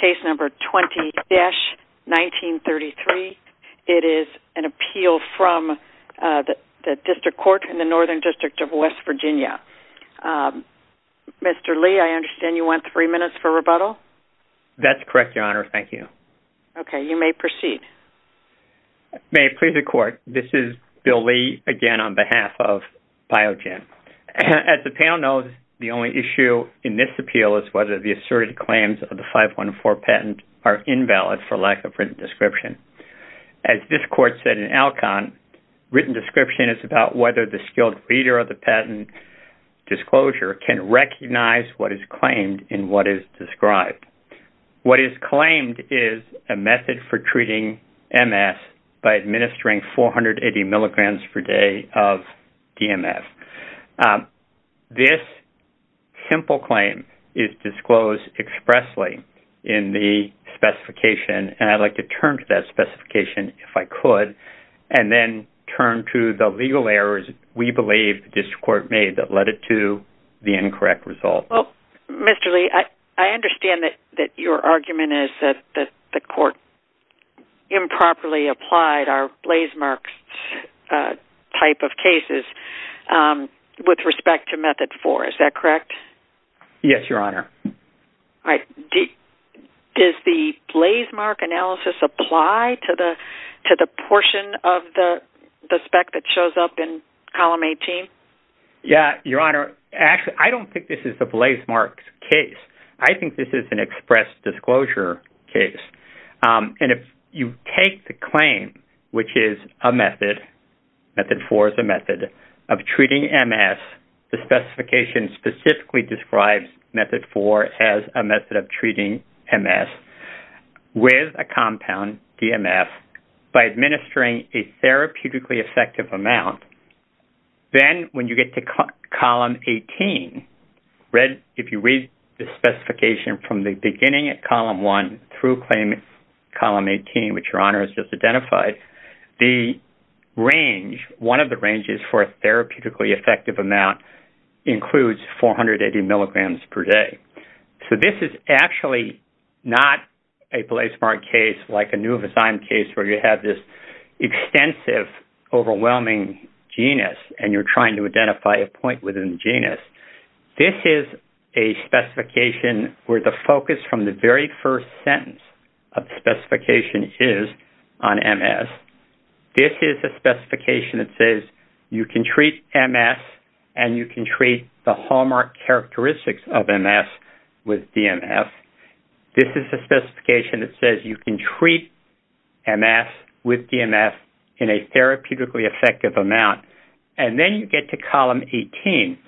Case No. 20-1933. It is an appeal from the District Court in the Northern District of West Virginia. Mr. Lee, I understand you want three minutes for rebuttal? That's correct, Your Honor. Thank you. Okay. You may proceed. May it please the Court, this is Bill Lee again on behalf of Biogen. As the panel knows, the only issue in this appeal is whether the asserted claims of the 514 patent are invalid for lack of written description. As this Court said in Alcon, written description is about whether the skilled reader of the patent disclosure can recognize what is claimed and what is described. What is claimed is a method for treating MS by administering 480 mg per day of DMF. This simple claim is disclosed expressly in the specification, and I'd like to turn to that specification, if I could, and then turn to the legal errors we believe the District Court made that led it to the incorrect result. Well, Mr. Lee, I understand that your argument is that the Court improperly applied our blazemarks type of cases with respect to Method 4. Is that correct? Yes, Your Honor. All right. Does the blazemark analysis apply to the portion of the spec that shows up in Column 18? Yeah, Your Honor. Actually, I don't think this is the blazemarks case. I think this is an If you take the claim, which is a method, Method 4 is a method of treating MS, the specification specifically describes Method 4 as a method of treating MS with a compound, DMF, by administering a therapeutically effective amount, then when you get to Column 18, if you read the specification from the beginning at Column 1 through claim Column 18, which Your Honor has just identified, the range, one of the ranges for a therapeutically effective amount includes 480 milligrams per day. So this is actually not a blazemark case like a new-assigned case where you have this extensive, overwhelming genus, and you're trying to identify a point within the genus. This is a specification where the focus from the very first sentence of the specification is on MS. This is a specification that says you can treat MS and you can treat the hallmark characteristics of MS with DMF. This is a specification that says you can treat MS with DMF in a therapeutically effective amount. And then you get to Column 18,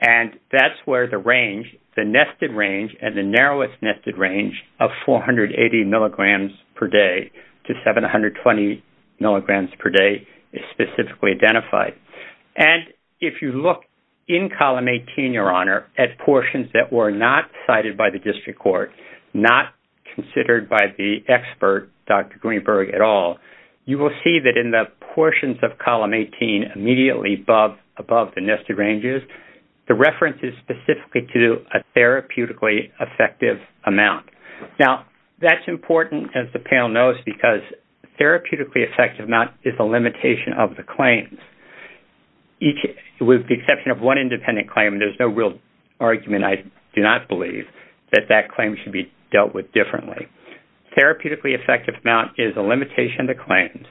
and that's where the range, the nested range, and the narrowest nested range of 480 milligrams per day to 720 milligrams per day is specifically identified. And if you look in Column 18, Your Honor, at portions that were not cited by the district court, not considered by the expert, Dr. Greenberg, at all, you will see that in the Column 18 immediately above the nested ranges, the reference is specifically to a therapeutically effective amount. Now, that's important, as the panel knows, because therapeutically effective amount is a limitation of the claims. With the exception of one independent claim, there's no real argument. I do not believe that that claim should be dealt with differently. Therapeutically effective amount is a limitation of the claims.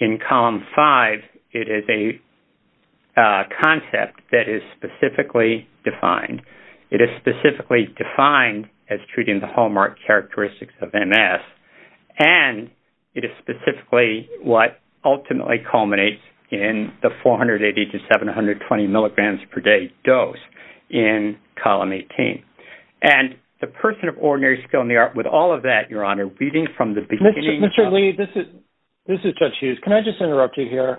In Column 5, it is a concept that is specifically defined. It is specifically defined as treating the hallmark characteristics of MS, and it is specifically what ultimately culminates in the 480 to 720 milligrams per day dose in Column 18. And the person of ordinary skill in the art with all of that, Your Honor, reading from the beginning... Mr. Lee, this is Judge Hughes. Can I just interrupt you here?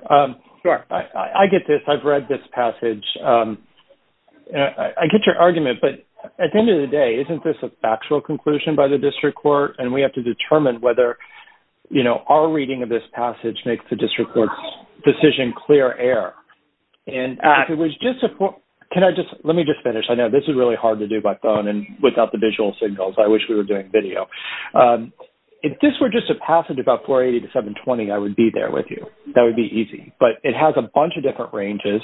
Sure. I get this. I've read this passage. I get your argument, but at the end of the day, isn't this a factual conclusion by the district court, and we have to determine whether our reading of this passage makes the district court's decision clear air? And if it was just a... Can I just... Let me just finish. I know this is hard to do by phone and without the visual signals. I wish we were doing video. If this were just a passage about 480 to 720, I would be there with you. That would be easy. But it has a bunch of different ranges,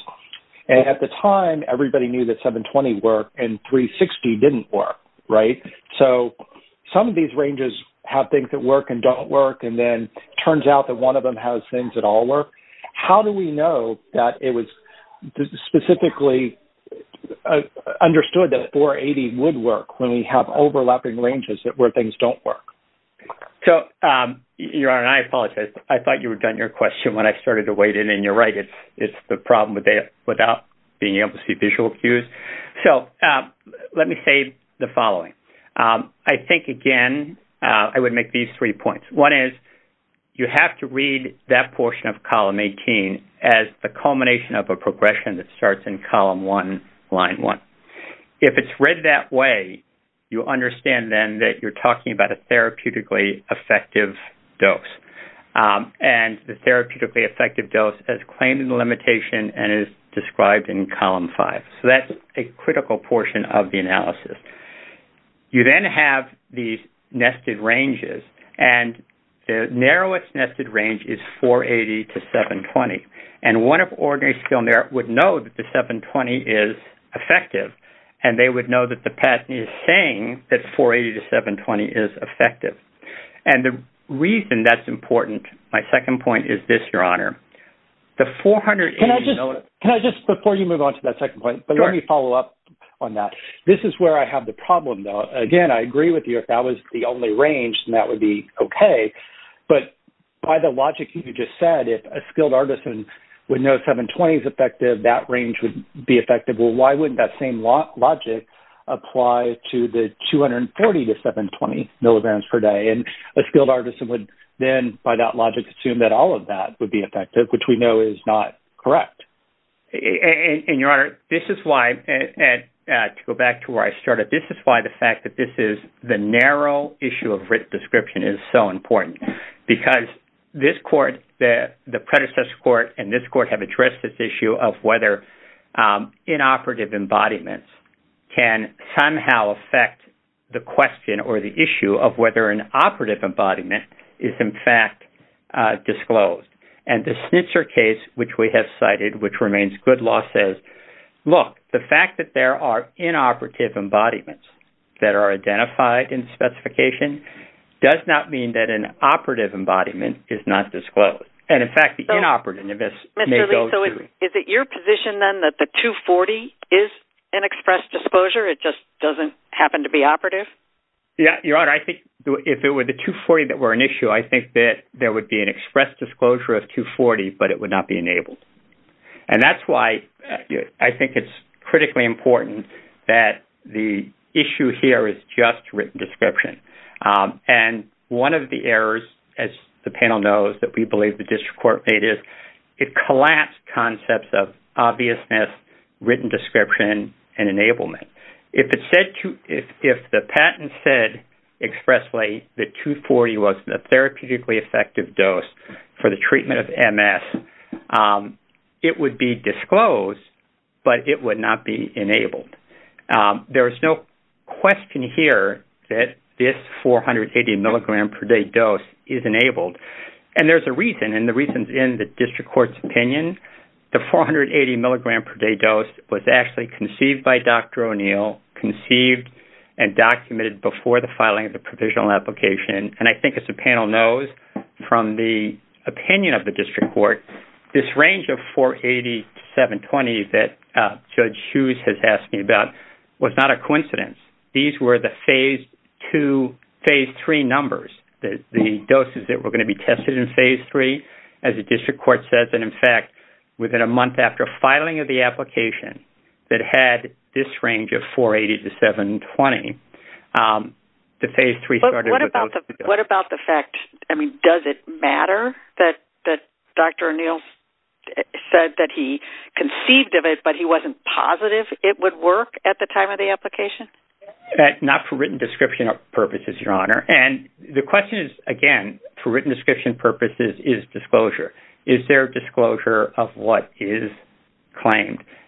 and at the time, everybody knew that 720 worked and 360 didn't work, right? So some of these ranges have things that work and don't work, and then it turns out that one of them has things that all work. How do we know that it was specifically understood that 480 would work when we have overlapping ranges where things don't work? So, Your Honor, I apologize. I thought you were done your question when I started to wade in, and you're right. It's the problem without being able to see visual cues. So let me say the following. I think, again, I would make these three points. One is, you have to read that portion of column 18 as the culmination of a progression that starts in column 1, line 1. If it's read that way, you understand then that you're talking about a therapeutically effective dose, and the therapeutically effective dose as claimed in the limitation and is described in column 5. So that's a critical portion of the analysis. You then have these nested ranges, and the narrowest nested range is 480 to 720, and one of ordinary would know that the 720 is effective, and they would know that the PET is saying that 480 to 720 is effective. And the reason that's important, my second point, is this, Your Honor. The 480- Can I just, before you move on to that second point, but let me follow up on that. This is where I have the problem, though. Again, I agree with you if that was the only range, and that would be okay, but by the logic you just said, if a skilled artisan would know 720 is effective, that range would be effective. Well, why wouldn't that same logic apply to the 240 to 720 milligrams per day? And a skilled artisan would then, by that logic, assume that all of that would be effective, which we know is not correct. And, Your Honor, this is why, to go back to where I started, this is why the fact that this is the narrow issue of written description is so important, because this court, the predecessor court, and this court have addressed this issue of whether inoperative embodiments can somehow affect the question or the issue of whether an operative embodiment is, in fact, disclosed. And the Schnitzer case, which we have cited, which remains good law, says, look, the fact that there are inoperative embodiments that are identified in the specification does not mean that an operative embodiment is not disclosed. And, in fact, the inoperative may go through. Mr. Lee, so is it your position, then, that the 240 is an express disclosure? It just doesn't happen to be operative? Yeah, Your Honor, I think if it were the 240 that were an issue, I think that there would be an express disclosure of 240, but it would not be enabled. And that's why I think it's critically important that the issue here is just written description. And one of the errors, as the panel knows, that we believe the district court made is it collapsed concepts of obviousness, written description, and enablement. If the patent said expressly that 240 was a therapeutically effective dose for the treatment of MS, it would be disclosed, but it would not be enabled. There's no question here that this 480 milligram per day dose is enabled. And there's a reason, and the reason's in the district court's opinion. The 480 milligram per day dose was actually conceived by Dr. O'Neill, conceived and documented before the filing of the provisional application. And I think as the panel knows, from the opinion of the district court, this range of 480 to 720 that Judge Hughes has asked me about was not a coincidence. These were the phase two, phase three numbers, the doses that were going to be tested in phase three, as the district court says. And in fact, within a month after filing of the application that had this range of 480 to 720, the phase three started without the dose. What about the fact, I mean, does it matter that Dr. O'Neill said that he conceived of it, but he wasn't positive it would work at the time of the application? Not for written description purposes, Your Honor. And the question is, again, for written description purposes, is disclosure. Is there disclosure of what is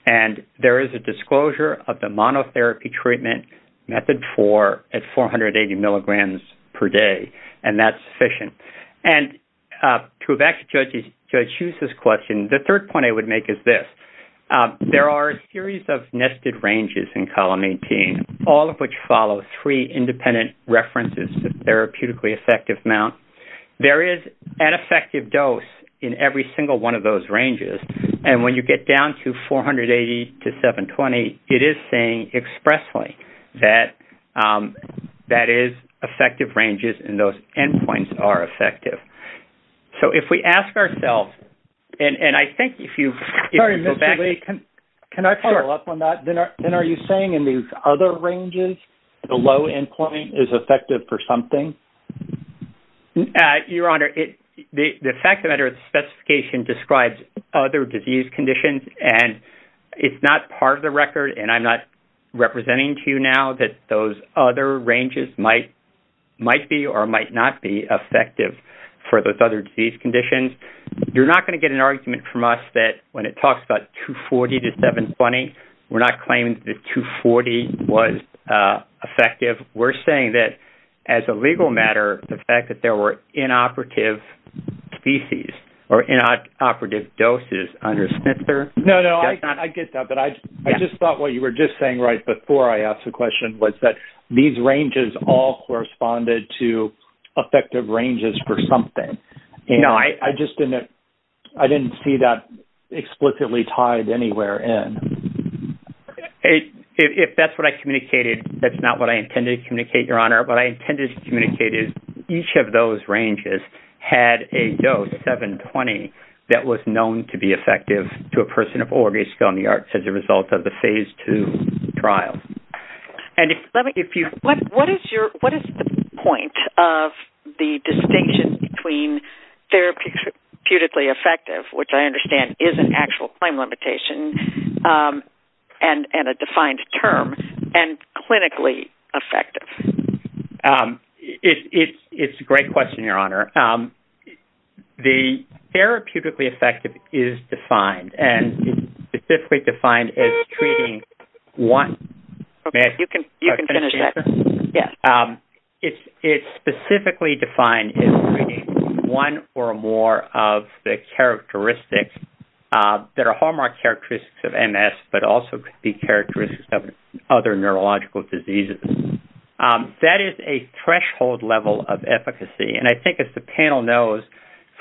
and there is a disclosure of the monotherapy treatment method for at 480 milligrams per day, and that's sufficient. And to go back to Judge Hughes's question, the third point I would make is this. There are a series of nested ranges in column 18, all of which follow three independent references to therapeutically effective amount. There is an effective dose in every single one those ranges. And when you get down to 480 to 720, it is saying expressly that is effective ranges in those endpoints are effective. So if we ask ourselves, and I think if you go back- Sorry, Mr. Lee, can I follow up on that? Then are you saying in these other ranges, the low endpoint is effective for something? Your Honor, the fact of the matter is the specification describes other disease conditions, and it's not part of the record, and I'm not representing to you now that those other ranges might be or might not be effective for those other disease conditions. You're not going to get an argument from us that when it talks about 240 to 720, we're not claiming that 240 was effective. We're saying that as a legal matter, the fact that there were inoperative species or inoperative doses under Smither- No, no, I get that, but I just thought what you were just saying right before I asked the question was that these ranges all corresponded to effective ranges for something. I just didn't see that explicitly tied anywhere in. If that's what I communicated, that's not what I intended to communicate, Your Honor. What I intended to communicate is each of those ranges had a dose, 720, that was known to be effective to a person of orgasm on the arts as a result of the phase two trial. What is the point of the distinction between therapeutically effective, which I understand is an actual claim limitation and a defined term, and clinically effective? It's a great question, Your Honor. The therapeutically effective is defined and specifically defined as treating one- You can finish that. Yes. It's specifically defined as treating one or more of the characteristics that are hallmark characteristics of MS, but also could be characteristics of other neurological diseases. That is a threshold level of efficacy. I think as the panel knows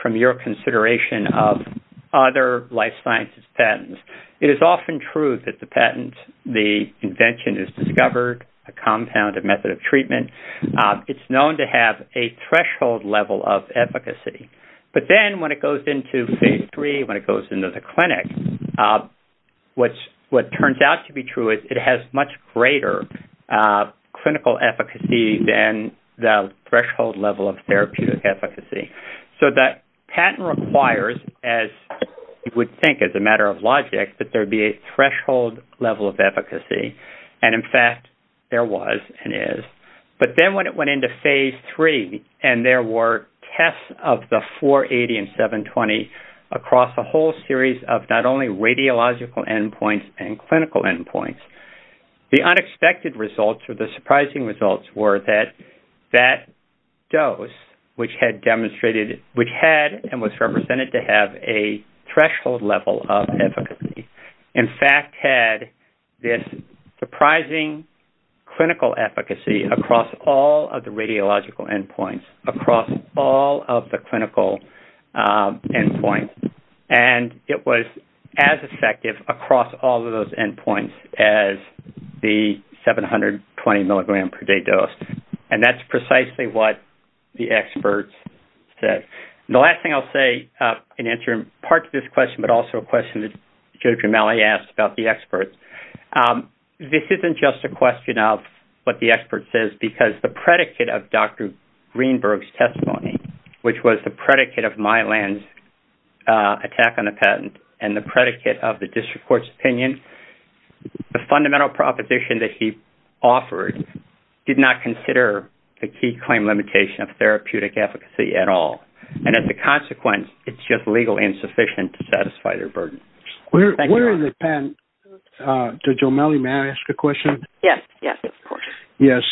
from your consideration of other life sciences patents, it is often true that the patent, the invention is discovered, a compound, a method of treatment, it's known to have a threshold level of efficacy. But then when it goes into phase three, when it goes into the clinic, what turns out to be true is it has much greater clinical efficacy than the threshold level of therapeutic efficacy. The patent requires, as you would think as a matter of logic, that there be a threshold level of efficacy. In fact, there was and is. But then when it went into phase three, and there were tests of the 480 and 720 across a whole series of not only radiological endpoints and clinical endpoints, the unexpected results or the surprising results were that that dose, which had demonstrated, which had and was represented to have a threshold level of efficacy, in fact, had this surprising clinical efficacy across all of the radiological endpoints, across all of the clinical endpoints. And it was as effective across all of those endpoints as the 720 milligram per day dose. And that's precisely what the experts said. The last thing I'll say in answer part of this question, but also a question that Joe Gremelli asked about the experts, this isn't just a question of what the expert says, because the predicate of Dr. Greenberg's testimony, which was the predicate of Mylan's attack on the patent and the predicate of the district court's opinion, the fundamental proposition that he offered did not consider the key claim limitation of therapeutic efficacy at all. And as a consequence, it's just legally insufficient to satisfy their burden. Where in the patent- Joe Gremelli, may I ask a question? Yes, of course. Yes.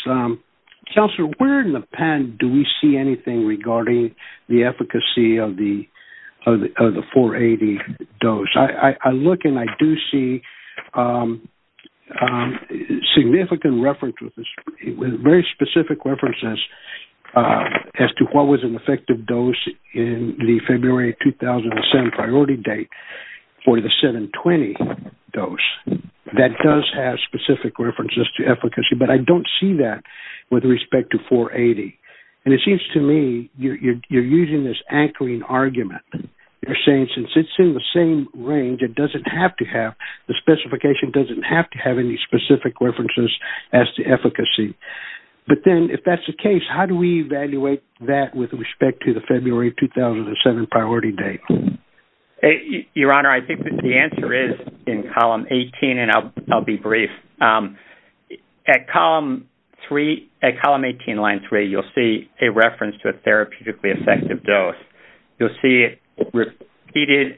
Counselor, where in the patent do we see anything regarding the efficacy of the 480 dose? I look and I do see significant reference with very specific references as to what was an effective dose in the February 2007 priority date for the 720 dose. That does have specific references to efficacy, but I don't see that with respect to 480. And it seems to me you're using this anchoring argument. You're saying since it's in the same range, it doesn't have to have, the specification doesn't have to have any specific references as to efficacy. But then if that's the case, how do we evaluate that with respect to the February 2007 priority date? Your Honor, I think that the answer is in column 18 and I'll be brief. At column 18, line three, you'll see a reference to a therapeutically effective dose. You'll see it repeated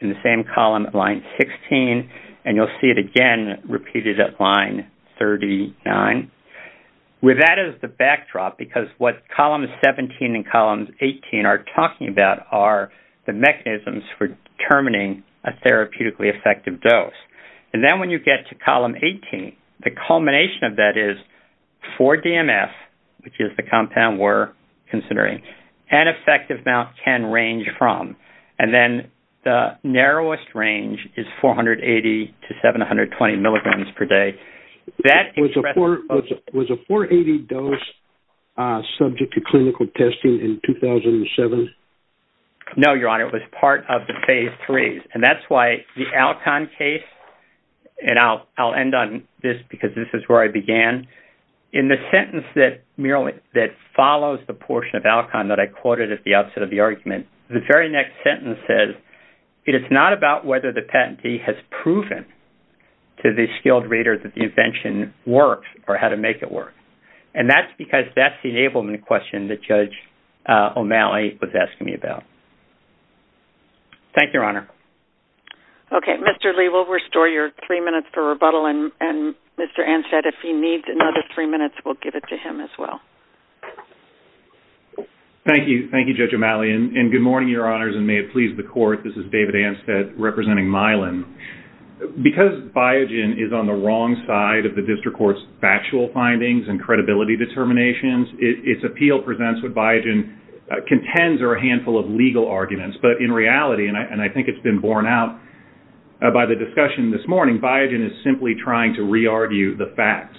in the same column at line 16, and you'll see it again repeated at line 39. With that as the backdrop, because what column 17 and column 18 are talking about are the mechanisms for determining a therapeutically effective dose. And then when you get to column 18, the culmination of that is for DMF, which is the compound we're considering, an effective amount can range from. And then the narrowest range is 480 to 720 milligrams per day. Was a 480 dose subject to clinical testing in 2007? No, Your Honor, it was part of the phase three. And that's why the Alcon case, and I'll end on this because this is where I began. In the sentence that follows the portion of Alcon that I quoted at the outset of the argument, the very next sentence says, it is not about whether the patentee has proven to the skilled reader that the invention works or how to make it work. And that's because that's the enablement question that Judge O'Malley was asking me about. Thank you, Your Honor. Okay. Mr. Lee, we'll restore your three minutes for rebuttal. And Mr. Anstead, if he needs another three minutes, we'll give it to him as well. Thank you. Thank you, Judge O'Malley. And good morning, Your Honors, and may it please the court, this is David Anstead representing Milan. Because Biogen is on the wrong side of the district court's factual findings and credibility determinations, its appeal presents what Biogen contends are a handful of legal arguments. But in reality, and I think it's been borne out by the discussion this morning, Biogen is simply trying to re-argue the facts.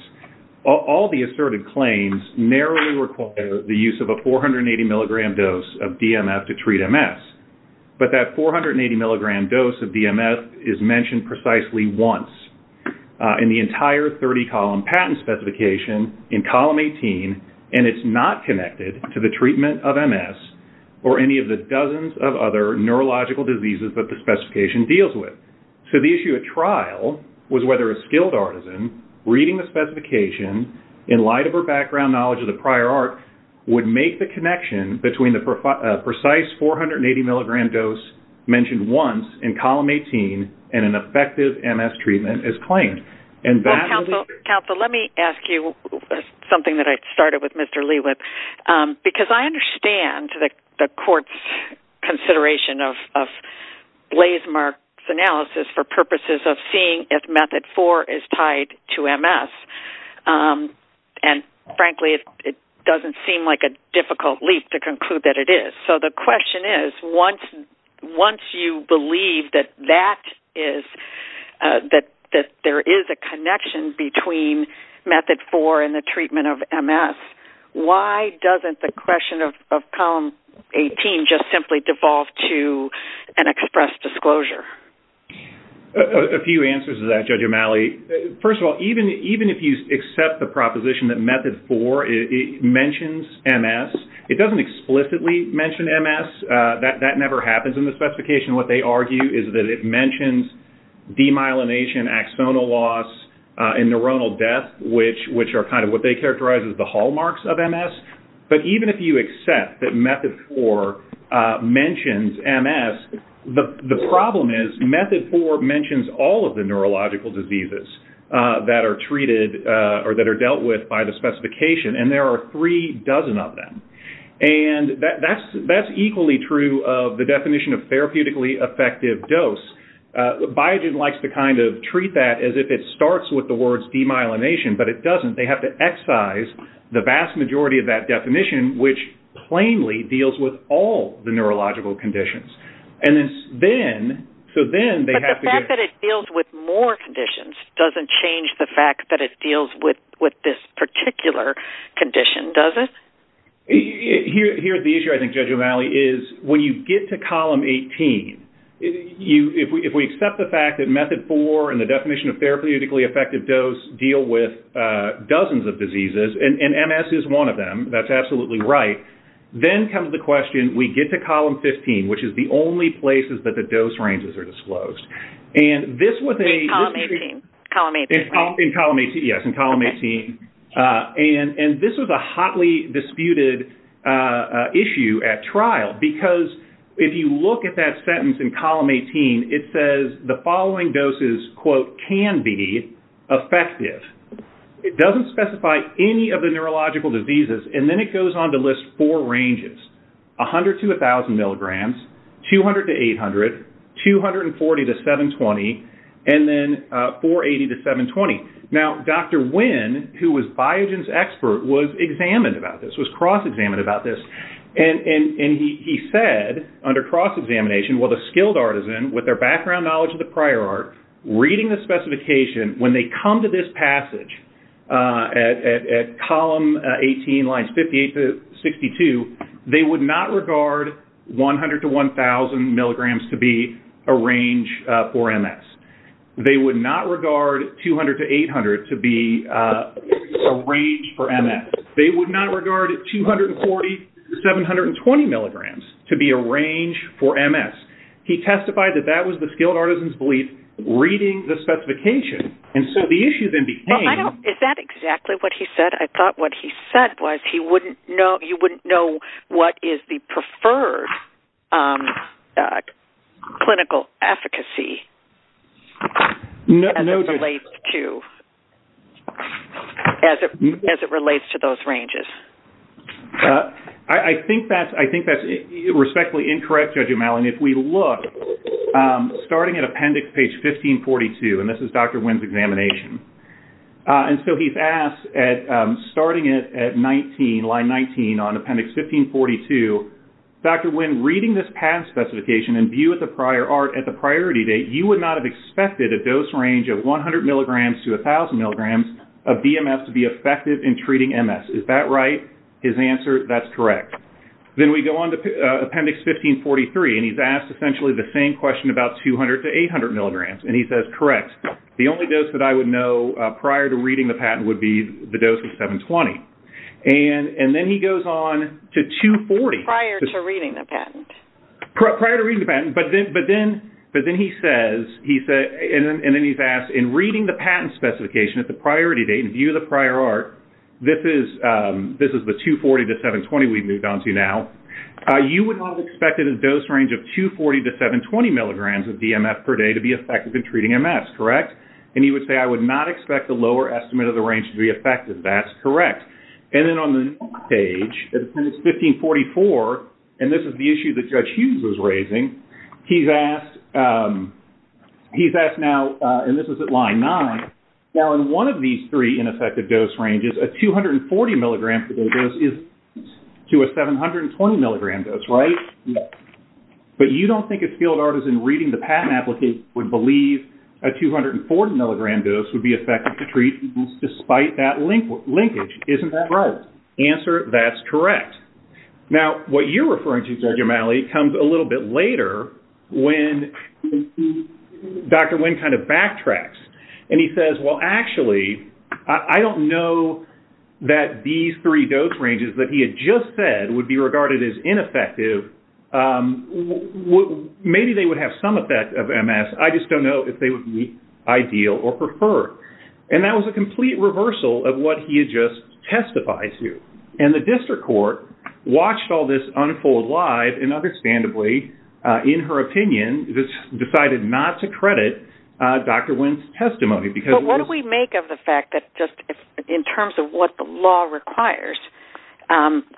All the asserted claims narrowly require the use of a 480 milligram dose of DMF to treat MS. But that 480 milligram dose of DMF is mentioned precisely once in the entire 30-column patent specification in column 18, and it's not connected to the treatment of MS or any of the dozens of other neurological diseases that the specification deals with. So the issue at trial was whether a specification, in light of her background knowledge of the prior art, would make the connection between the precise 480 milligram dose mentioned once in column 18 and an effective MS treatment as claimed. Well, counsel, let me ask you something that I started with Mr. Lee with. Because I understand the court's consideration of Blasemark's analysis for purposes of seeing if method four is tied to MS. And frankly, it doesn't seem like a difficult leap to conclude that it is. So the question is, once you believe that that is, that there is a connection between method four and the treatment of MS, why doesn't the question of column 18 just simply devolve to an expressed disclosure? A few answers to that, Judge O'Malley. First of all, even if you accept the proposition that method four mentions MS, it doesn't explicitly mention MS. That never happens in the specification. What they argue is that it mentions demyelination, axonal loss, and neuronal death, which are kind of what they characterize as the hallmarks of MS. But even if you accept that method four mentions MS, the problem is method four mentions all of the neurological diseases that are treated or that are dealt with by the specification. And there are three dozen of them. And that's equally true of the definition of therapeutically effective dose. Biogen likes to kind of treat that as if it starts with the words demyelination, but it doesn't. They have to excise the vast majority of that definition, which plainly deals with all the neurological conditions. But the fact that it deals with more conditions doesn't change the fact that it deals with this particular condition, does it? Here the issue, I think, Judge O'Malley, is when you get to column 18, if we accept the fact that method four and the dozens of diseases, and MS is one of them, that's absolutely right, then comes the question, we get to column 15, which is the only places that the dose ranges are disclosed. And this was a... In column 18. In column 18, yes, in column 18. And this was a hotly disputed issue at trial because if you look at that sentence in column 18, it says the following doses, quote, can be effective. It doesn't specify any of the neurological diseases, and then it goes on to list four ranges, 100 to 1,000 milligrams, 200 to 800, 240 to 720, and then 480 to 720. Now, Dr. Nguyen, who was Biogen's expert, was examined about this, was cross-examined about this. And he said, under cross-examination, well, the skilled artisan, with their background knowledge of the prior art, reading the specification, when they come to this passage at column 18, lines 58 to 62, they would not regard 100 to 1,000 milligrams to be a range for MS. They would not regard 200 to 800 to be a range for MS. They would not regard 240 to 720 milligrams to be a range for MS. He testified that that was the skilled artisan's belief, reading the specification. And so the issue then became- Well, I don't- Is that exactly what he said? I thought what he said was he wouldn't know- you wouldn't know what is the preferred clinical efficacy as it relates to those ranges. I think that's respectfully incorrect, Judge O'Malley. And if we look, starting at appendix page 1542, and this is Dr. Nguyen's examination. And so he's asked, starting at line 19 on appendix 1542, Dr. Nguyen, reading this patent specification and view of the prior art at the priority date, you would not have expected a dose range of 100 milligrams to 1,000 milligrams of BMS to be effective in treating MS. Is that right? His answer, that's correct. Then we go on to appendix 1543, and he's asked essentially the same question about 200 to 800 milligrams. And he says, correct. The only dose that I would know prior to reading the patent would be the dose of 720. And then he goes on to 240. Prior to reading the patent. Prior to reading the patent. But then he says, and then he's asked, in reading the patent specification at the priority date and view of the prior art, this is the 240 to 720 we've moved on to now, you would not have expected a dose range of 240 to 720 milligrams of DMF per day to be effective in treating MS. Correct? And he would say, I would not expect a lower estimate of the range to be effective. That's correct. And then on the next page, appendix 1544, and this is the issue that Judge Hughes was raising, he's asked, he's asked now, and this is at line nine, now in one of these three ineffective dose ranges, a 240 milligram per day dose is to a 720 milligram dose, right? But you don't think a field artisan reading the patent applicant would believe a 240 milligram dose would be effective to treat MS despite that you're referring to, Judge O'Malley, comes a little bit later when Dr. Wynn kind of backtracks. And he says, well, actually, I don't know that these three dose ranges that he had just said would be regarded as ineffective. Maybe they would have some effect of MS. I just don't know if they would be ideal or preferred. And that was a complete reversal of what he had just testified to. And the district court watched all this unfold live and understandably, in her opinion, decided not to credit Dr. Wynn's testimony. But what do we make of the fact that just in terms of what the law requires,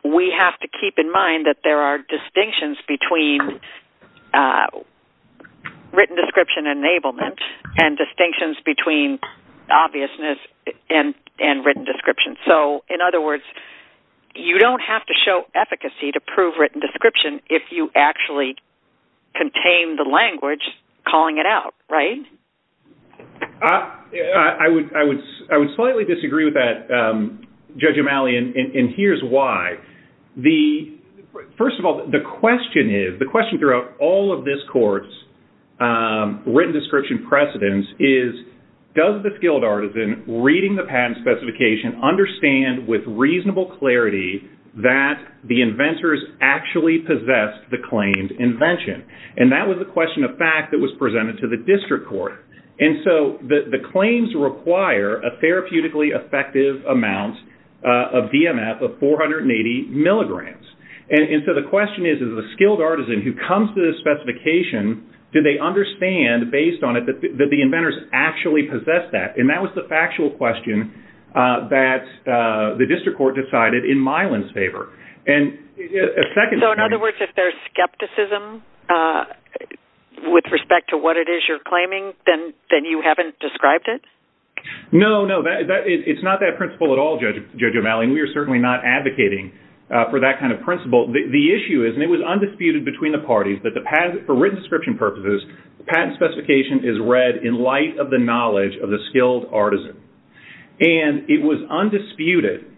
we have to keep in mind that there are distinctions between written description enablement and distinctions between obviousness and written description. So in other words, you don't have to show efficacy to prove written description if you actually contain the language calling it out, right? I would slightly disagree with that, Judge O'Malley, and here's why. First of all, the question throughout all of this court's written description precedence is does the field artisan reading the patent specification understand with reasonable clarity that the inventors actually possessed the claimed invention? And that was a question of fact that was presented to the district court. And so the claims require a therapeutically effective amount of DMF of 480 milligrams. And so the question is, is the skilled artisan who comes to the specification, do they understand based on it that the inventors actually possessed that? And that was the factual question that the district court decided in Mylan's favor. So in other words, if there's skepticism with respect to what it is you're claiming, then you haven't described it? No, no, it's not that principle at all, Judge O'Malley, and we are certainly not advocating for that kind of principle. The issue is, and it was undisputed between the parties, that for written description purposes, the patent specification is read in light of the skilled artisan. And it was undisputed,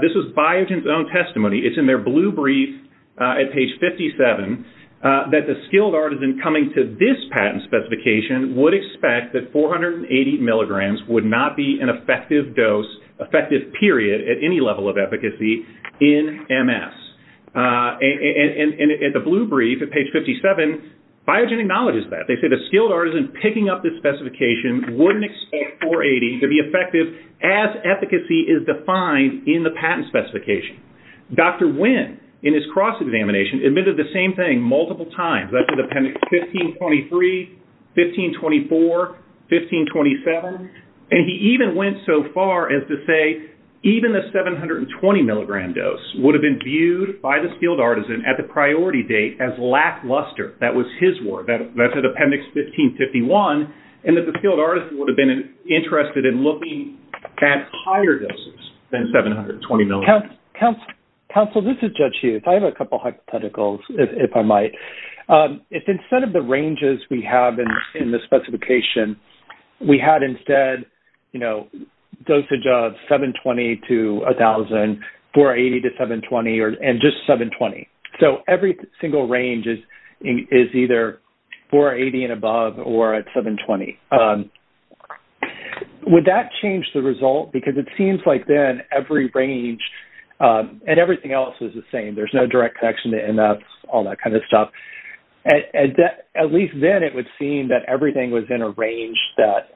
this was Biogen's own testimony, it's in their blue brief at page 57, that the skilled artisan coming to this patent specification would expect that 480 milligrams would not be an effective dose, effective period at any level of efficacy in MS. And in the blue brief at page 57, Biogen acknowledges that. They say the skilled artisan picking up this specification wouldn't expect 480 to be effective as efficacy is defined in the patent specification. Dr. Wynn, in his cross-examination, admitted the same thing multiple times, that's in appendix 1523, 1524, 1527, and he even went so far as to say even the 720 milligram dose would have been viewed by the skilled artisan at the priority date as lackluster, that was his word, that's at appendix 1551, and that the skilled artisan would have been interested in looking at higher doses than 720 milligrams. Counsel, this is Judge Hughes. I have a couple hypotheticals, if I might. If instead of the ranges we have in the specification, we had instead, you know, is either 480 and above or at 720, would that change the result? Because it seems like then every range and everything else is the same. There's no direct connection to MS, all that kind of stuff. At least then it would seem that everything was in a range that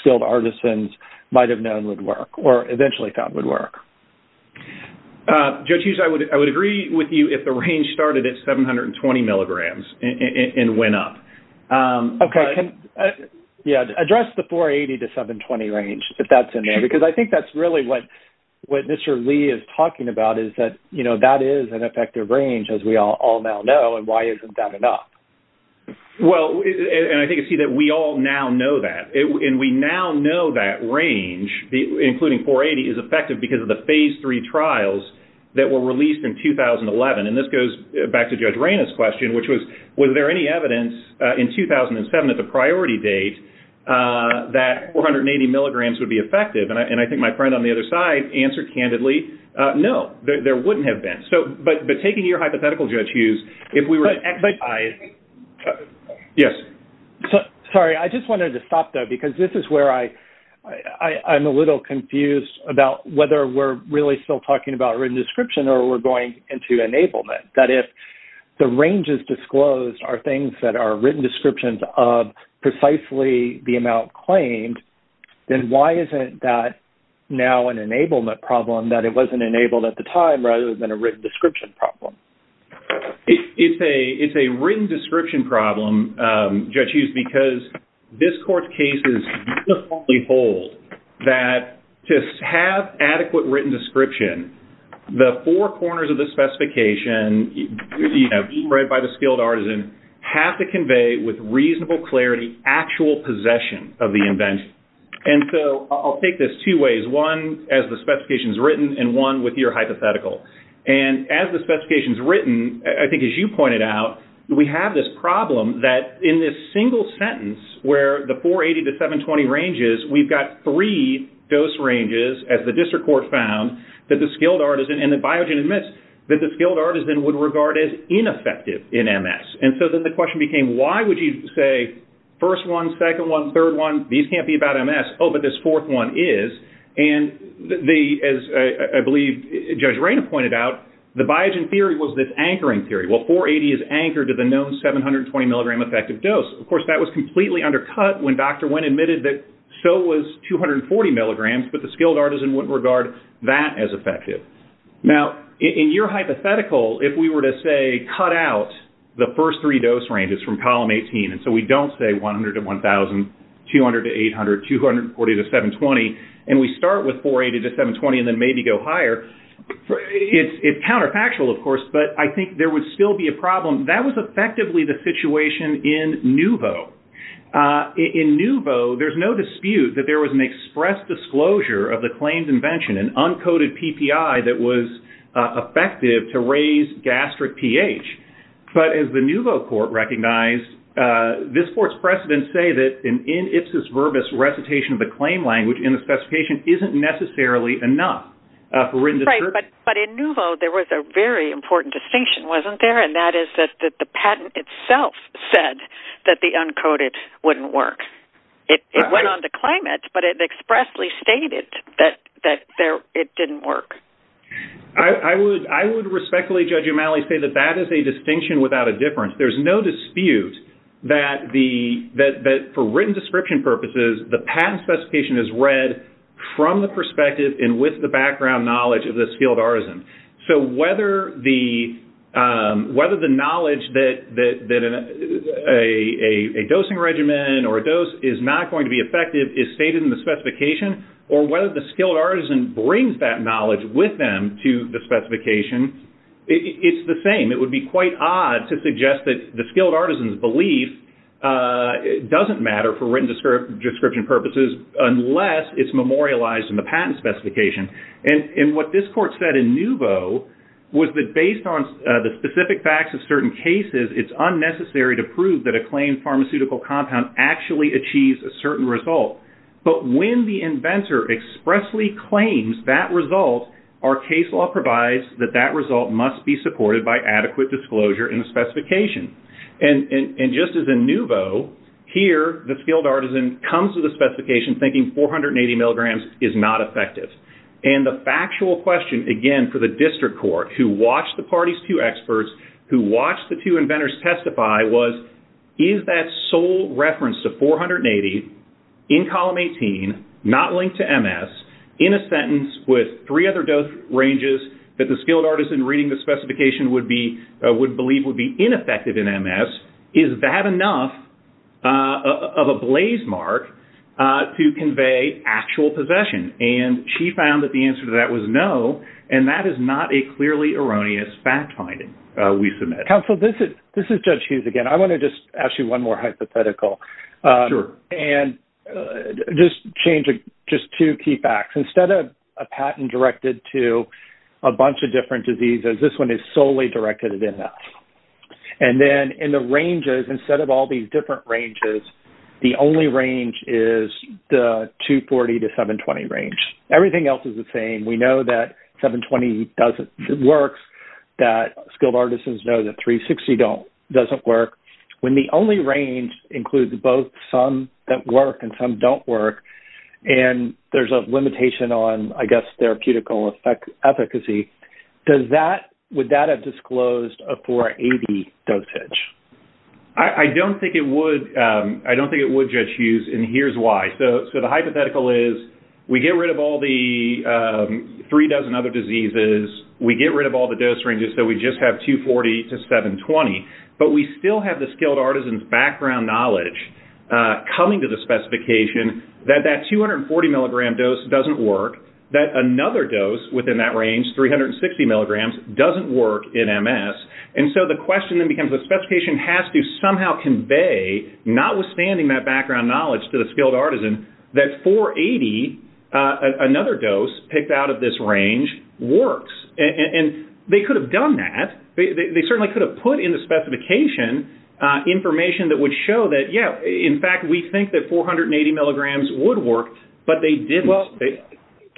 skilled artisans might have known would work or eventually thought would work. Judge Hughes, I would agree with you if the range started at 720 milligrams and went up. Okay. Yeah. Address the 480 to 720 range, if that's in there, because I think that's really what Mr. Lee is talking about, is that, you know, that is an effective range, as we all now know, and why isn't that enough? Well, and I think you see that we all now that. And we now know that range, including 480, is effective because of the phase three trials that were released in 2011. And this goes back to Judge Reyna's question, which was, was there any evidence in 2007 at the priority date that 480 milligrams would be effective? And I think my friend on the other side answered candidly, no, there wouldn't have been. But taking your hypothetical, Judge Hughes, if we were to actually... Yes. Sorry, I just wanted to stop, though, because this is where I'm a little confused about whether we're really still talking about written description or we're going into enablement, that if the ranges disclosed are things that are written descriptions of precisely the amount claimed, then why isn't that now an enablement problem that it wasn't enabled at the time, rather than a written description problem? It's a written description problem, Judge Hughes, because this Court's case is just to hold that to have adequate written description, the four corners of the specification, you know, being read by the skilled artisan, have to convey with reasonable clarity, actual possession of the invention. And so I'll take this two ways. One, as the specification's written, and one with your hypothetical. And as the specification's written, I think as you pointed out, we have this problem that in this single sentence, where the 480 to 720 ranges, we've got three dose ranges, as the District Court found, that the skilled artisan, and the Biogen admits, that the skilled artisan would regard as ineffective in MS. And so then the question became, why would you say, first one, second one, third one, these can't be about MS, oh, but this fourth one is. And as I believe Judge Rayna pointed out, the Biogen theory was this anchoring theory. Well, 480 is anchored to the known 720 milligram effective dose. Of course, that was completely undercut when Dr. Wynn admitted that so was 240 milligrams, but the skilled artisan wouldn't regard that as effective. Now, in your hypothetical, if we were to say, cut out the first three dose ranges from column 18, and so we don't say 100 to 1,000, 200 to 800, 240 to 720, and we start with 480 to 720 and then maybe go higher, it's counterfactual, of course, but I think there would still be a problem. That was effectively the situation in NUVO. In NUVO, there's no dispute that there was an express disclosure of the claims invention, an uncoded PPI that was effective to raise gastric pH. But as the NUVO court recognized, this court's precedents say that an in ipsis verbis recitation of the claim language in the specification isn't necessarily enough. But in NUVO, there was a very important distinction, wasn't there? And that is that the patent itself said that the uncoded wouldn't work. It went on to claim it, but it expressly stated that it didn't work. I would respectfully, Judge O'Malley, say that that is a distinction without a difference. There's no dispute that for written description purposes, the patent specification is read from the perspective and with the background knowledge of the skilled artisan. So whether the knowledge that a dosing regimen or a dose is not going to be effective is stated in the specification, it's the same. It would be quite odd to suggest that the skilled artisan's belief doesn't matter for written description purposes unless it's memorialized in the patent specification. And what this court said in NUVO was that based on the specific facts of certain cases, it's unnecessary to prove that a claimed pharmaceutical compound actually achieves a result. Our case law provides that that result must be supported by adequate disclosure in the specification. And just as in NUVO, here, the skilled artisan comes to the specification thinking 480 milligrams is not effective. And the factual question, again, for the district court, who watched the party's two experts, who watched the two inventors testify, was, is that sole reference to 480 in column 18, not linked to MS, in a sentence with three other dose ranges that the skilled artisan reading the specification would believe would be ineffective in MS, is that enough of a blaze mark to convey actual possession? And she found that the answer to that was no. And that is not a clearly erroneous fact finding, we submit. Counsel, this is Judge Hughes again. I want to just ask you one more hypothetical. Sure. And just change just two key facts. Instead of a patent directed to a bunch of different diseases, this one is solely directed at MS. And then in the ranges, instead of all these different ranges, the only range is the 240 to 720 range. Everything else is the same. We know that 360 doesn't work. When the only range includes both some that work and some don't work, and there's a limitation on, I guess, therapeutical efficacy, would that have disclosed a 480 dosage? I don't think it would, Judge Hughes, and here's why. So the hypothetical is, we get rid of all the three dozen other diseases, we get rid of all the dose ranges so we just have 240 to 720, but we still have the skilled artisan's background knowledge coming to the specification that that 240 milligram dose doesn't work, that another dose within that range, 360 milligrams, doesn't work in MS. And so the question then becomes, the specification has to somehow convey, notwithstanding that background knowledge to the skilled artisan, that 480, another dose picked out of this range, works. And they could have done that. They certainly could have put in the specification information that would show that, yeah, in fact, we think that 480 milligrams would work, but they didn't. Well,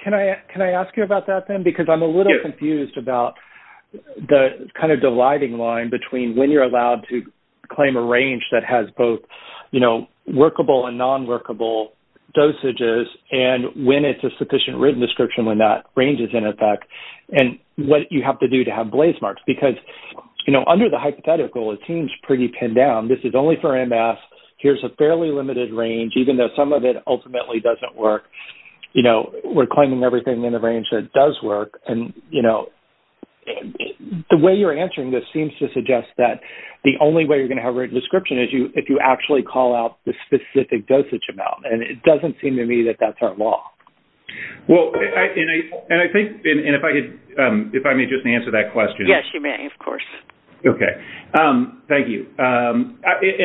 can I ask you about that then? Because I'm a little confused about the kind of dividing line between when you're allowed to claim a range that has both workable and non-workable dosages, and when it's a sufficient written description when that range is in effect, and what you have to do to have blaze marks. Because, you know, under the hypothetical, it seems pretty pinned down. This is only for MS. Here's a fairly limited range, even though some of it ultimately doesn't work. You know, we're claiming everything in the range that does work. And, you know, the way you're answering this seems to suggest that the only way you're going to have a written description is if you actually call out the specific dosage amount. And it doesn't seem to me that that's our law. Well, and I think, and if I could, if I may just answer that question. Yes, you may, of course. Okay. Thank you. And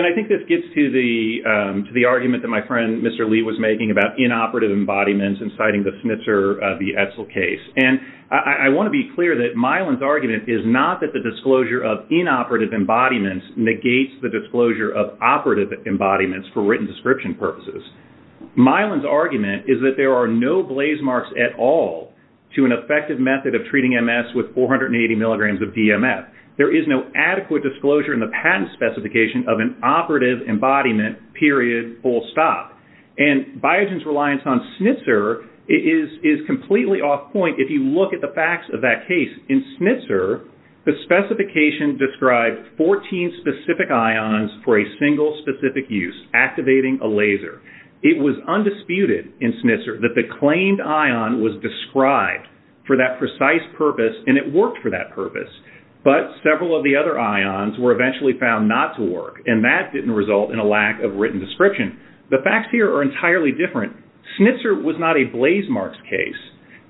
I think this gets to the argument that my friend, Mr. Lee, was making about inoperative embodiments and citing the Snitzer v. Edsel case. And I want to be clear that Mylan's argument is not that the disclosure of inoperative embodiments negates the disclosure of operative embodiments for written description purposes. Mylan's argument is that there are no blaze marks at all to an effective method of treating MS with 480 milligrams of DMF. There is no adequate disclosure in the patent specification of an operative embodiment, period, full stop. And Biogen's reliance on Snitzer is completely off point if you look at the facts of that case. In Snitzer, the specification described 14 specific ions for single specific use, activating a laser. It was undisputed in Snitzer that the claimed ion was described for that precise purpose and it worked for that purpose. But several of the other ions were eventually found not to work. And that didn't result in a lack of written description. The facts here are entirely different. Snitzer was not a blaze marks case.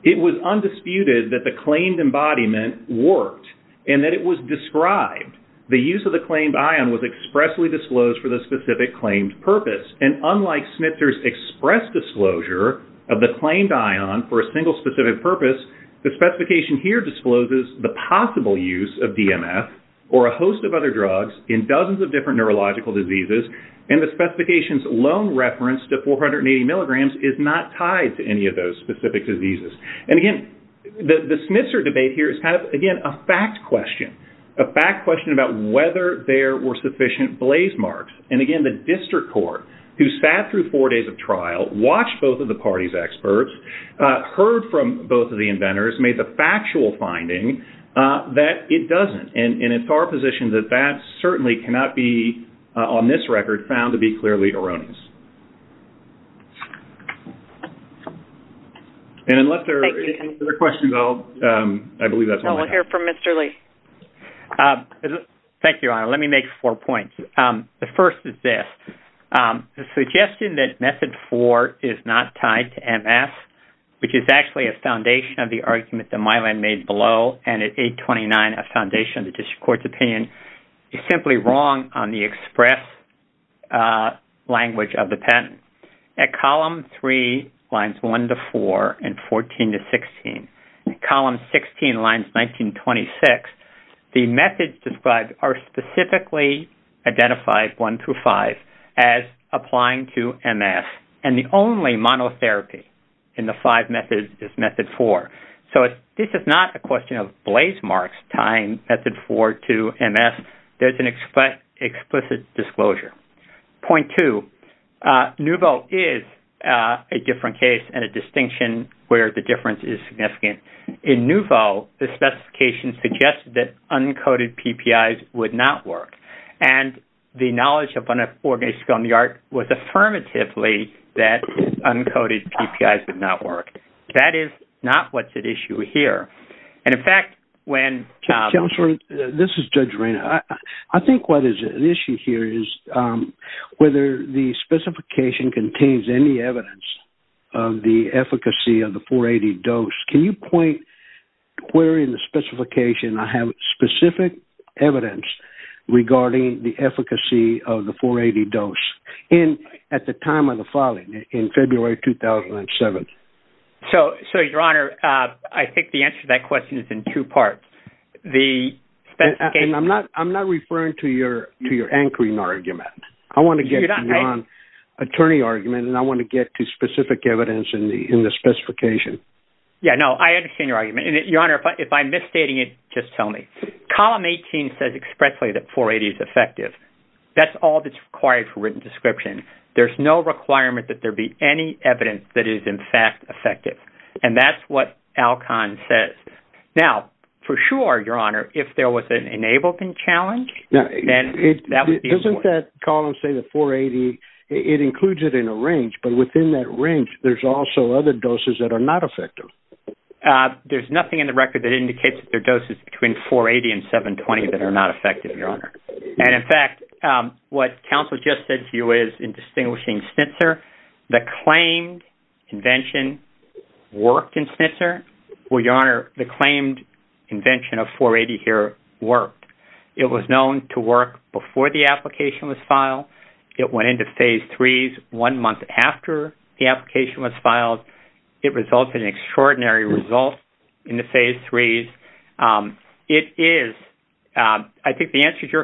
It was undisputed that the claimed embodiment worked and that it was described. The use of the claimed ion was expressly disclosed for the specific claimed purpose. And unlike Snitzer's express disclosure of the claimed ion for a single specific purpose, the specification here discloses the possible use of DMF or a host of other drugs in dozens of different neurological diseases. And the specification's lone reference to 480 milligrams is not tied to any of those specific diseases. And again, the Snitzer debate here is kind of, again, a fact question. A fact question about whether there were sufficient blaze marks. And again, the district court, who sat through four days of trial, watched both of the parties' experts, heard from both of the inventors, made the factual finding that it doesn't. And it's our position that that certainly cannot be, on this record, found to be clearly erroneous. And unless there are any other questions, I'll, I believe that's all. We'll hear from Mr. Lee. Thank you, Your Honor. Let me make four points. The first is this. The suggestion that Method 4 is not tied to MS, which is actually a foundation of the argument that Mylan made below, and at 829, a foundation of the district court's opinion, is simply wrong on the express language of the patent. At column 3, lines 1 to 4, and 14 to 16, and column 16, lines 19 to 26, the methods described are specifically identified, 1 through 5, as applying to MS. And the only monotherapy in the 5 methods is Method 4. So this is not a question of blaze marks tying Method 4 to MS. There's an explicit disclosure. Point 2. Nouveau is a different case and a distinction where the difference is significant. In Nouveau, the specification suggested that uncoated PPIs would not work. And the knowledge of an organization called Neillard was affirmatively that uncoated PPIs would not work. That is not what's at issue here. And in fact, when... Counselor, this is Judge Reina. I think what is at issue here is whether the specification contains any evidence of the efficacy of the 480 dose. Can you point where in the specification I have specific evidence regarding the efficacy of the 480 dose at the time of the filing in February 2007? So, Your Honor, I think the answer to that question is in two parts. The specification... And I'm not referring to your anchoring argument. I want to get to the non-attorney argument, and I want to get to specific evidence in the specification. Yeah, no, I understand your argument. And Your Honor, if I'm misstating it, just tell me. Column 18 says expressly that 480 is effective. That's all that's required for description. There's no requirement that there be any evidence that is, in fact, effective. And that's what Alcon says. Now, for sure, Your Honor, if there was an enablement challenge, then that would be... Doesn't that column say the 480, it includes it in a range, but within that range, there's also other doses that are not effective? There's nothing in the record that indicates that there are doses between 480 and 720 that are not effective. So, Your Honor, I think the answer to that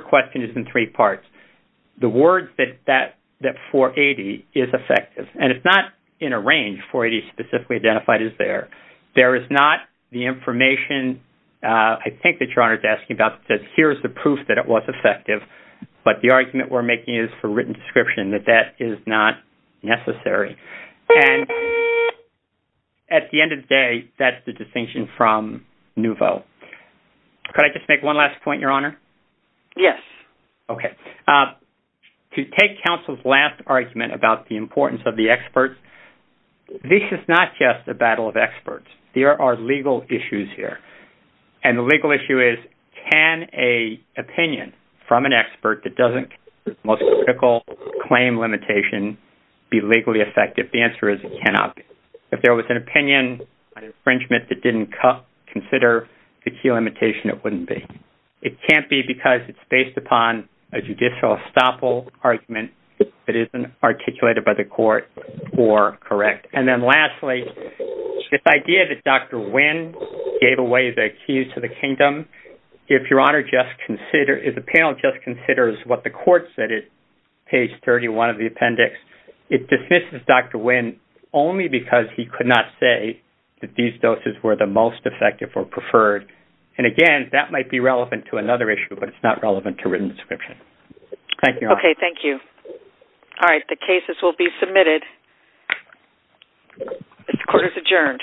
question is in three parts. The words that 480 is effective, and it's not in a range. 480 specifically identified is there. There is not the information, I think that Your Honor is asking about, that says here's the proof that it was effective. But the argument we're making is for written description that that is not necessary. And at the end of the day, that's the distinction from NUVO. Could I just one last point, Your Honor? Yes. Okay. To take counsel's last argument about the importance of the experts, this is not just a battle of experts. There are legal issues here. And the legal issue is, can an opinion from an expert that doesn't most critical claim limitation be legally effective? The answer is it cannot be. If there was an opinion, an infringement that didn't consider the key limitation, it wouldn't be. It can't be because it's based upon a judicial estoppel argument that isn't articulated by the court or correct. And then lastly, this idea that Dr. Wynn gave away the keys to the kingdom, if Your Honor just consider, if the panel just considers what the court said at page 31 of the appendix, it dismisses Dr. Wynn only because he could not say that these doses were the most effective or preferred. And again, that might be relevant to another issue, but it's not relevant to written description. Thank you. Okay. Thank you. All right. The cases will be submitted. The court is adjourned.